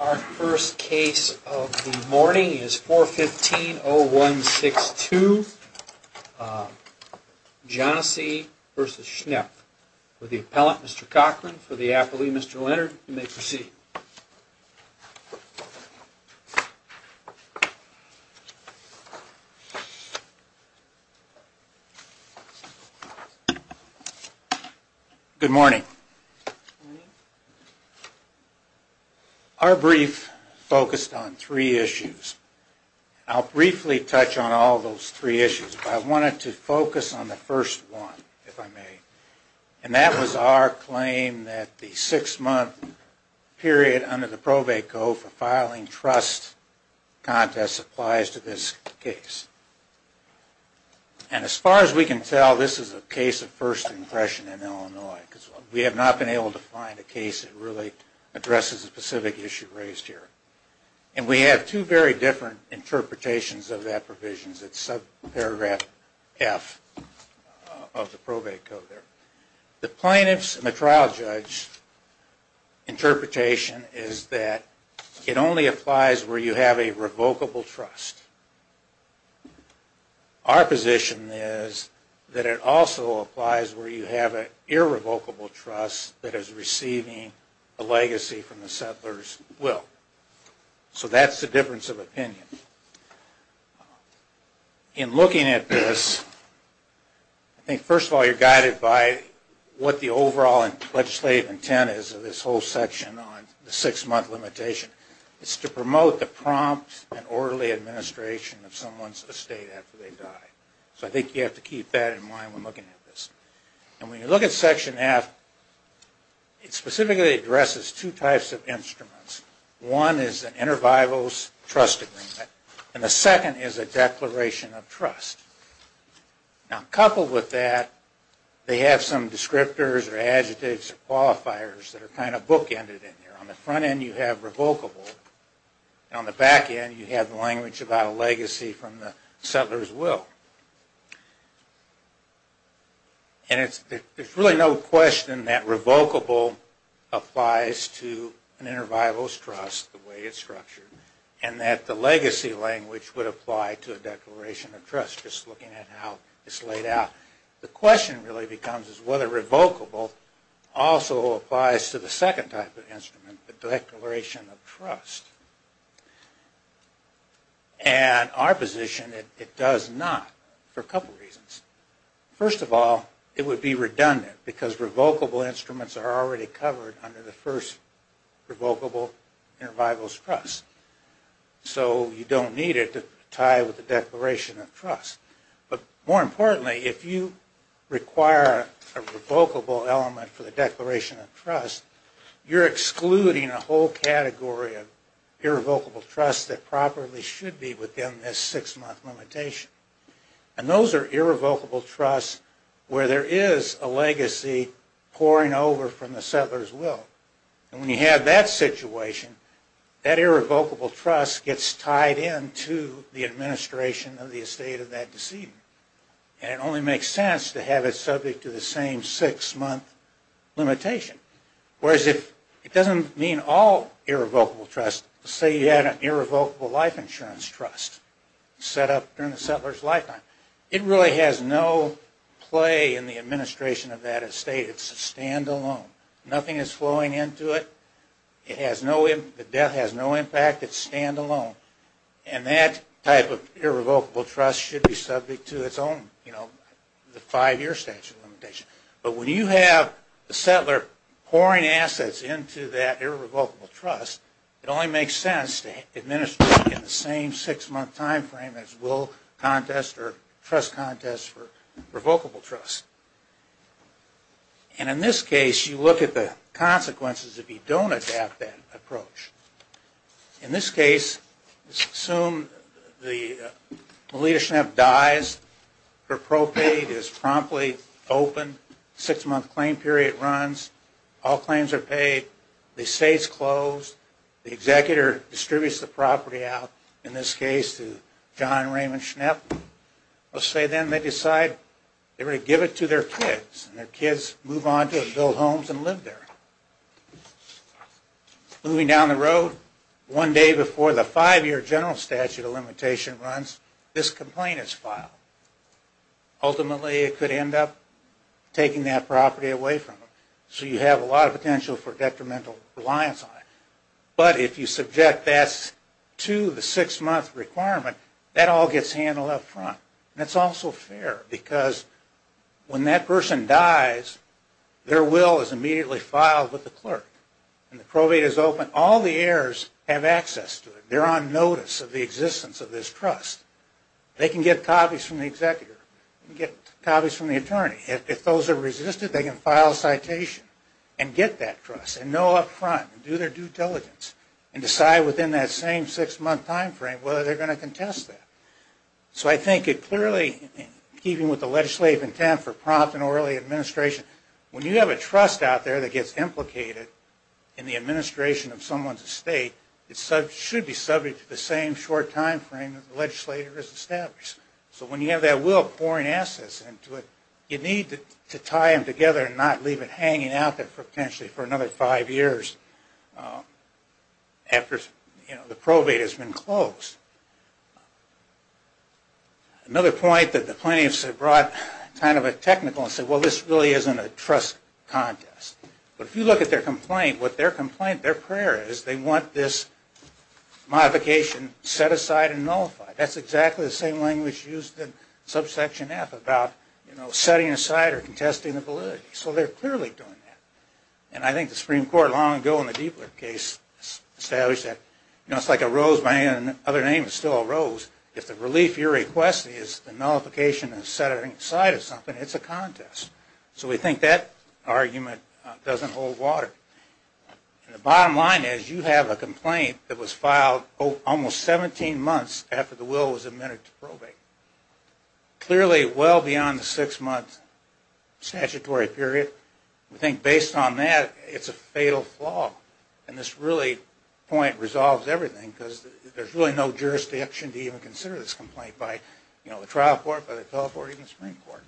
Our first case of the morning is 415-0162, Johnessee v. Schnepf. Will the appellant, Mr. Cochran, for the appellee, Mr. Leonard, you may proceed. Good morning. Our brief focused on three issues. I'll briefly touch on all those three issues, but I wanted to focus on the first one, if I may. And that was our claim that the six-month period under the probate code for filing trust contests applies to this case. And as far as we can tell, this is a case of first impression in Illinois, because we have not been able to find a case that really addresses the specific issue raised here. And we have two very different interpretations of that provision. It's subparagraph F of the probate code there. The plaintiff's and the trial judge interpretation is that it only applies where you have a revocable trust. Our position is that it also applies where you have an irrevocable trust that is receiving a legacy from the settler's will. So that's the difference of opinion. In looking at this, I think first of all you're guided by what the overall legislative intent is of this whole section on the six-month limitation. It's to promote the prompt and orderly administration of someone's estate after they die. So I think you have to keep that in mind when looking at this. And when you look at section F, it specifically addresses two types of instruments. One is an intervivals trust agreement, and the second is a declaration of trust. Now coupled with that, they have some descriptors or adjectives or qualifiers that are kind of bookended in there. On the front end you have revocable, and on the back end you have language about a legacy from the settler's will. And there's really no question that revocable applies to an intervivals trust the way it's structured, and that the legacy language would apply to a declaration of trust just looking at how it's laid out. The question really becomes is whether revocable also applies to the second type of instrument, the declaration of trust. And our position is it does not for a couple of reasons. First of all, it would be redundant because revocable instruments are already covered under the first revocable intervivals trust. So you don't need it to tie with the declaration of trust. But more importantly, if you require a revocable element for the declaration of trust, you're excluding a whole category of irrevocable trust that probably should be within this six-month limitation. And those are irrevocable trusts where there is a legacy pouring over from the settler's will. And when you have that situation, that irrevocable trust gets tied into the administration of the estate of that decedent. And it only makes sense to have it subject to the same six-month limitation. Whereas it doesn't mean all irrevocable trusts. Say you had an irrevocable life insurance trust set up during the settler's lifetime. It really has no play in the administration of that estate. It's a standalone. Nothing is flowing into it. The debt has no impact. It's standalone. And that type of irrevocable trust should be subject to its own five-year statute limitation. But when you have the settler pouring assets into that irrevocable trust, it only makes sense to administer it in the same six-month time frame as will contest or trust contest for revocable trust. And in this case, you look at the consequences if you don't adapt that approach. In this case, assume Melita Schnepp dies. Her propate is promptly opened. Six-month claim period runs. All claims are paid. The estate is closed. The executor distributes the property out, in this case to John Raymond Schnepp. Let's say then they decide they're going to give it to their kids. And their kids move on to build homes and live there. Moving down the road, one day before the five-year general statute of limitation runs, this complaint is filed. Ultimately, it could end up taking that property away from them. So you have a lot of potential for detrimental reliance on it. But if you subject that to the six-month requirement, that all gets handled up front. And it's also fair because when that person dies, their will is immediately filed with the clerk. And the propate is open. All the heirs have access to it. They're on notice of the existence of this trust. They can get copies from the executor. They can get copies from the attorney. If those are resisted, they can file a citation and get that trust and know up front and do their due diligence and decide within that same six-month time frame whether they're going to contest that. So I think it clearly, even with the legislative intent for prompt and early administration, when you have a trust out there that gets implicated in the administration of someone's estate, it should be subject to the same short time frame that the legislator has established. So when you have that will pouring assets into it, you need to tie them together and not leave it hanging out there potentially for another five years after the probate has been closed. Another point that the plaintiffs have brought kind of a technical and said, well, this really isn't a trust contest. But if you look at their complaint, what their complaint, their prayer is, they want this modification set aside and nullified. That's exactly the same language used in subsection F about, you know, setting aside or contesting the validity. So they're clearly doing that. And I think the Supreme Court long ago in the Diebler case established that, you know, it's like a rose by any other name is still a rose. If the relief you're requesting is the nullification of setting aside of something, it's a contest. So we think that argument doesn't hold water. And the bottom line is, you have a complaint that was filed almost 17 months after the will was amended to probate. Clearly well beyond the six-month statutory period. We think based on that, it's a fatal flaw. And this really point resolves everything because there's really no jurisdiction to even consider this complaint by, you know, the trial court, by the Teleport, even the Supreme Court.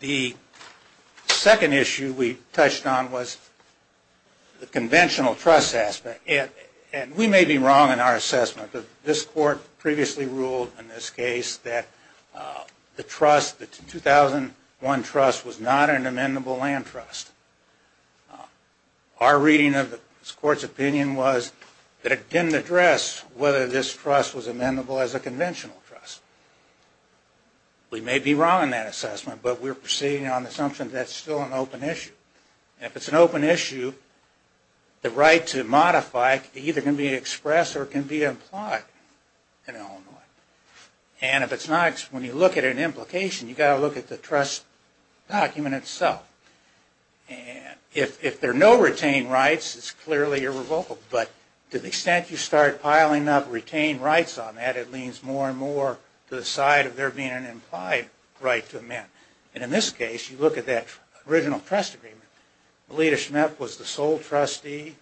The second issue we touched on was the conventional trust aspect. And we may be wrong in our assessment, but this court previously ruled in this case that the trust, the 2001 trust was not an amendable land trust. Our reading of the court's opinion was that it didn't address whether this trust was amendable as a conventional trust. We may be wrong in that assessment, but we're proceeding on the assumption that's still an open issue. And if it's an open issue, the right to modify either can be expressed or can be implied in Illinois. And if it's not, when you look at an implication, you've got to look at the trust document itself. And if there are no retained rights, it's clearly irrevocable. But to the extent you start piling up retained rights on that, it leans more and more to the side of there being an implied right to amend. And in this case, you look at that original trust agreement. Melita Schmidt was the sole trustee.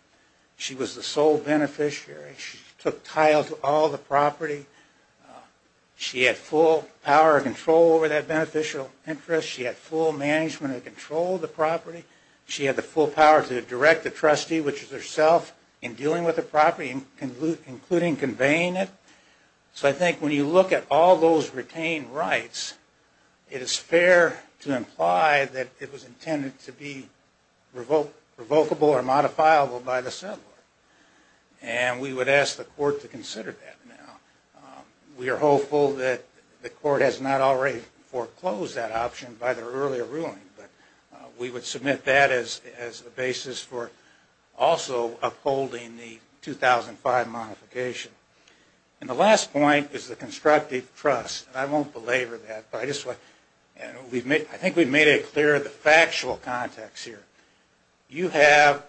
She was the sole beneficiary. She took tile to all the property. She had full power and control over that beneficial interest. She had full management and control of the property. She had the full power to direct the trustee, which is herself, in dealing with the property, including conveying it. So I think when you look at all those retained rights, it is fair to imply that it was intended to be revocable or modifiable by the settlor. And we would ask the court to consider that now. We are hopeful that the court has not already foreclosed that option by their earlier ruling. We would submit that as a basis for also upholding the 2005 modification. And the last point is the constructive trust. And I won't belabor that. I think we've made it clear the factual context here. You have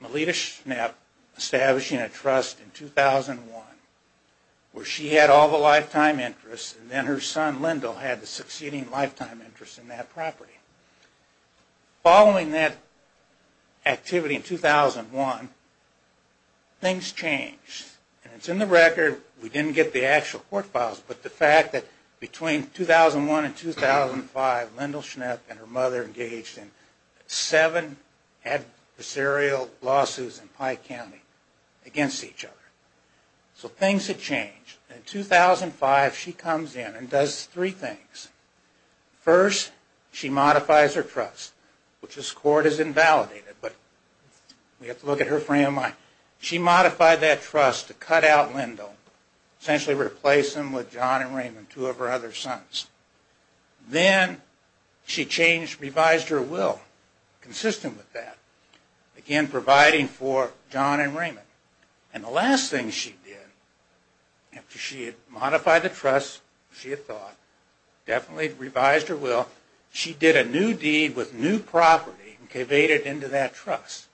Melita Schmidt establishing a trust in 2001, where she had all the lifetime interests, and then her son Lyndal had the succeeding lifetime interest in that property. Following that activity in 2001, things changed. And it's in the record. We didn't get the actual court files, but the fact that between 2001 and 2005, Lyndal Schnepp and her mother engaged in seven adversarial lawsuits in Pike County against each other. So things had changed. In 2005, she comes in and does three things. First, she modifies her trust, which this court has invalidated, but we have to look at her frame of mind. She modified that trust to cut out Lyndal, essentially replace him with John and Raymond, two of her other sons. Then she revised her will consistent with that, again providing for John and Raymond. And the last thing she did, after she had modified the trust, she had thought, definitely revised her will, she did a new deed with new property and conveyed it into that trust.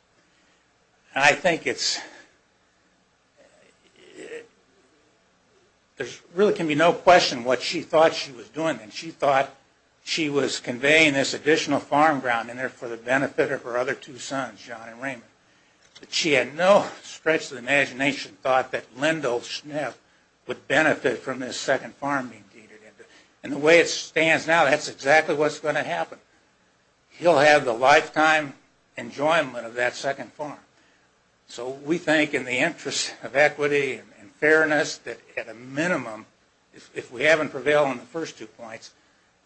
And I think it's... there really can be no question what she thought she was doing. She thought she was conveying this additional farm ground in there for the benefit of her other two sons, John and Raymond. But she had no stretch of the imagination thought that Lyndal Schnepp would benefit from this second farm being deeded into. And the way it stands now, that's exactly what's going to happen. He'll have the lifetime enjoyment of that second farm. So we think in the interest of equity and fairness that at a minimum, if we haven't prevailed on the first two points,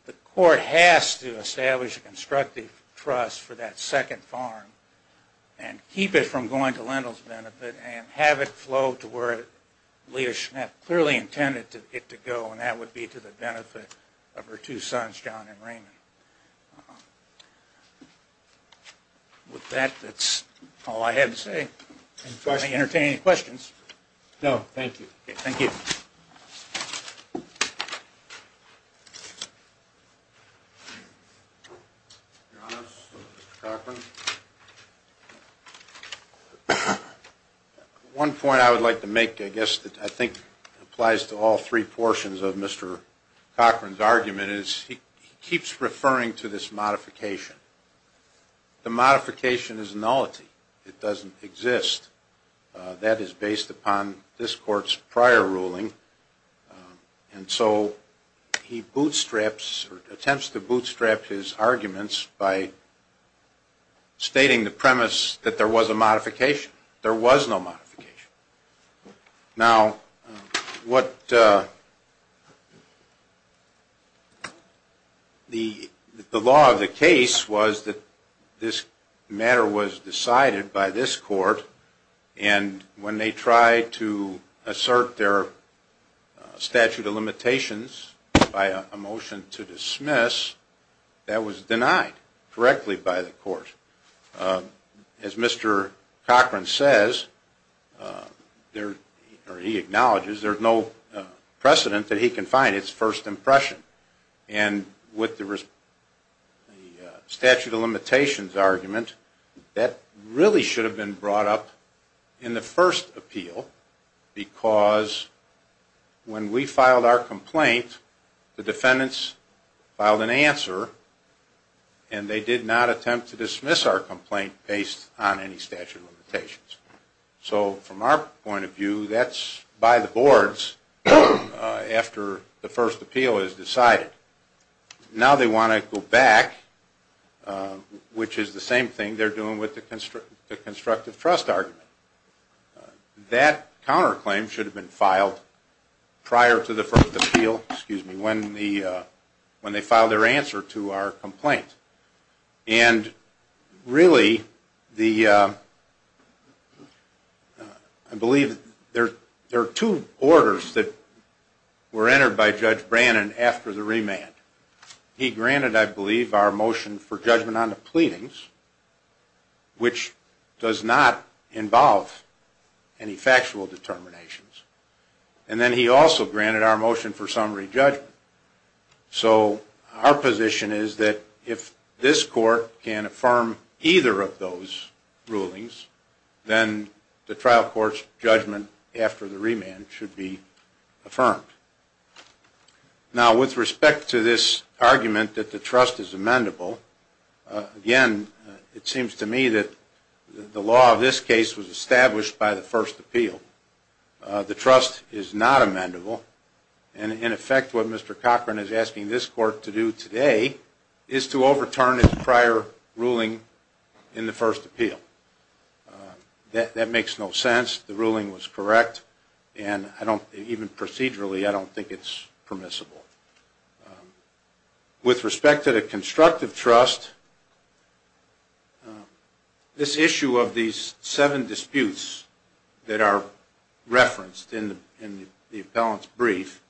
the court has to establish a constructive trust for that second farm and keep it from going to Lyndal's benefit and have it flow to where Leah Schnepp clearly intended it to go, and that would be to the benefit of her two sons, John and Raymond. With that, that's all I had to say. May I entertain any questions? No, thank you. Thank you. Your Honor, Mr. Cochran. One point I would like to make, I guess, that I think applies to all three portions of Mr. Cochran's argument, is he keeps referring to this modification. The modification is nullity. It doesn't exist. That is based upon this Court's prior ruling, and so he attempts to bootstrap his arguments by stating the premise that there was a modification. There was no modification. Now, the law of the case was that this matter was decided by this Court, and when they tried to assert their statute of limitations by a motion to dismiss, that was denied correctly by the Court. As Mr. Cochran says, or he acknowledges, there's no precedent that he can find. It's first impression. And with the statute of limitations argument, that really should have been brought up in the first appeal, because when we filed our complaint, the defendants filed an answer, and they did not attempt to dismiss our complaint based on any statute of limitations. So from our point of view, that's by the boards after the first appeal is decided. Now they want to go back, which is the same thing they're doing with the constructive trust argument. That counterclaim should have been filed prior to the first appeal, when they filed their answer to our complaint. I believe there are two orders that were entered by Judge Brannon after the remand. He granted, I believe, our motion for judgment on the pleadings, which does not involve any factual determinations. And then he also granted our motion for summary judgment. So our position is that if this Court can affirm either of those rulings, then the trial court's judgment after the remand should be affirmed. Now with respect to this argument that the trust is amendable, again, it seems to me that the law of this case was established by the first appeal. The trust is not amendable, and in effect what Mr. Cochran is asking this Court to do today is to overturn his prior ruling in the first appeal. That makes no sense. The ruling was correct. Even procedurally, I don't think it's permissible. With respect to the constructive trust, this issue of these seven disputes that are referenced in the appellant's brief,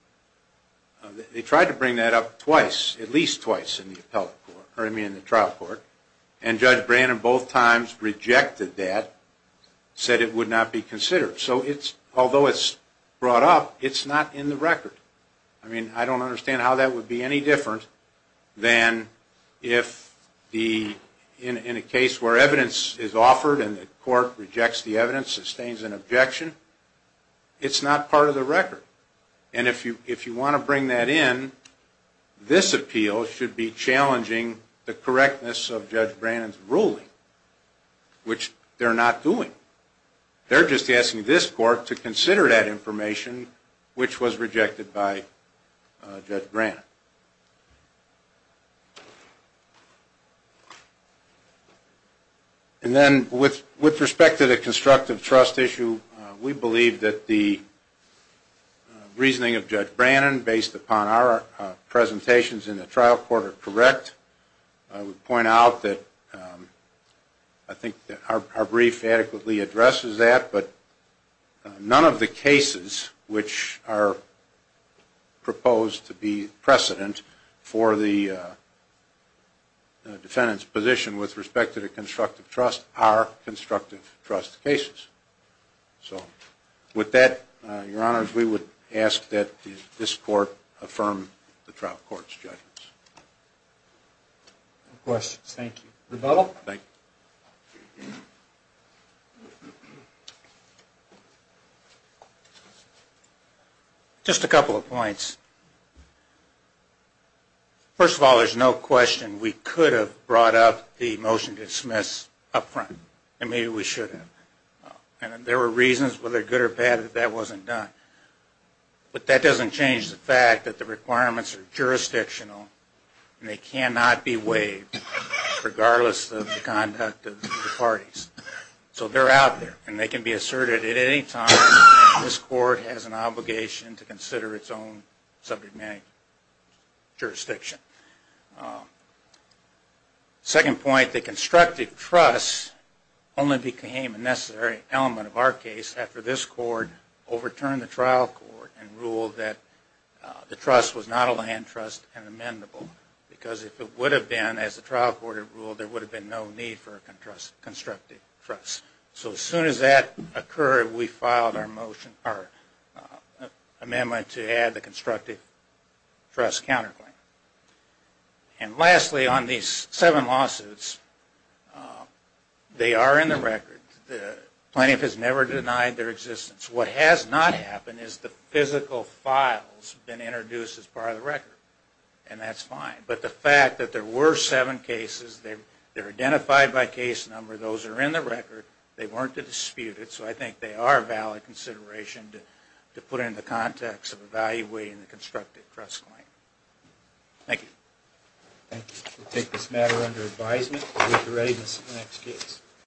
they tried to bring that up twice, at least twice in the trial court, and Judge Brannon both times rejected that, said it would not be considered. So although it's brought up, it's not in the record. I don't understand how that would be any different than if, in a case where evidence is offered and the Court rejects the evidence, sustains an objection, it's not part of the record. And if you want to bring that in, this appeal should be challenging the correctness of Judge Brannon's ruling, which they're not doing. They're just asking this Court to consider that information, which was rejected by Judge Brannon. And then with respect to the constructive trust issue, we believe that the reasoning of Judge Brannon, based upon our presentations in the trial court, are correct. I would point out that I think our brief adequately addresses that, but none of the cases which are proposed to be precedent for the defendant's position with respect to the constructive trust are constructive trust cases. So with that, Your Honors, we would ask that this Court affirm the trial court's judgments. No questions. Thank you. Just a couple of points. First of all, there's no question we could have brought up the motion to dismiss up front, and maybe we should have. And there were reasons, whether good or bad, that that wasn't done. But that doesn't change the fact that the requirements are jurisdictional, and they cannot be waived, regardless of the conduct of the parties. So they're out there, and they can be asserted at any time if this Court has an obligation to consider its own subject matter jurisdiction. Second point, the constructive trust only became a necessary element of our case after this Court overturned the trial court and ruled that the trust was not a land trust and amendable. Because if it would have been, as the trial court had ruled, there would have been no need for a constructive trust. So as soon as that occurred, we filed our amendment to add the constructive trust counterclaim. And lastly, on these seven lawsuits, they are in the record. The plaintiff has never denied their existence. What has not happened is the physical files have been introduced as part of the record, and that's fine. But the fact that there were seven cases, they're identified by case number, those are in the record, they weren't disputed, so I think they are a valid consideration to put into context of evaluating the constructive trust claim. Thank you. We'll take this matter under advisement to get the readiness of the next case.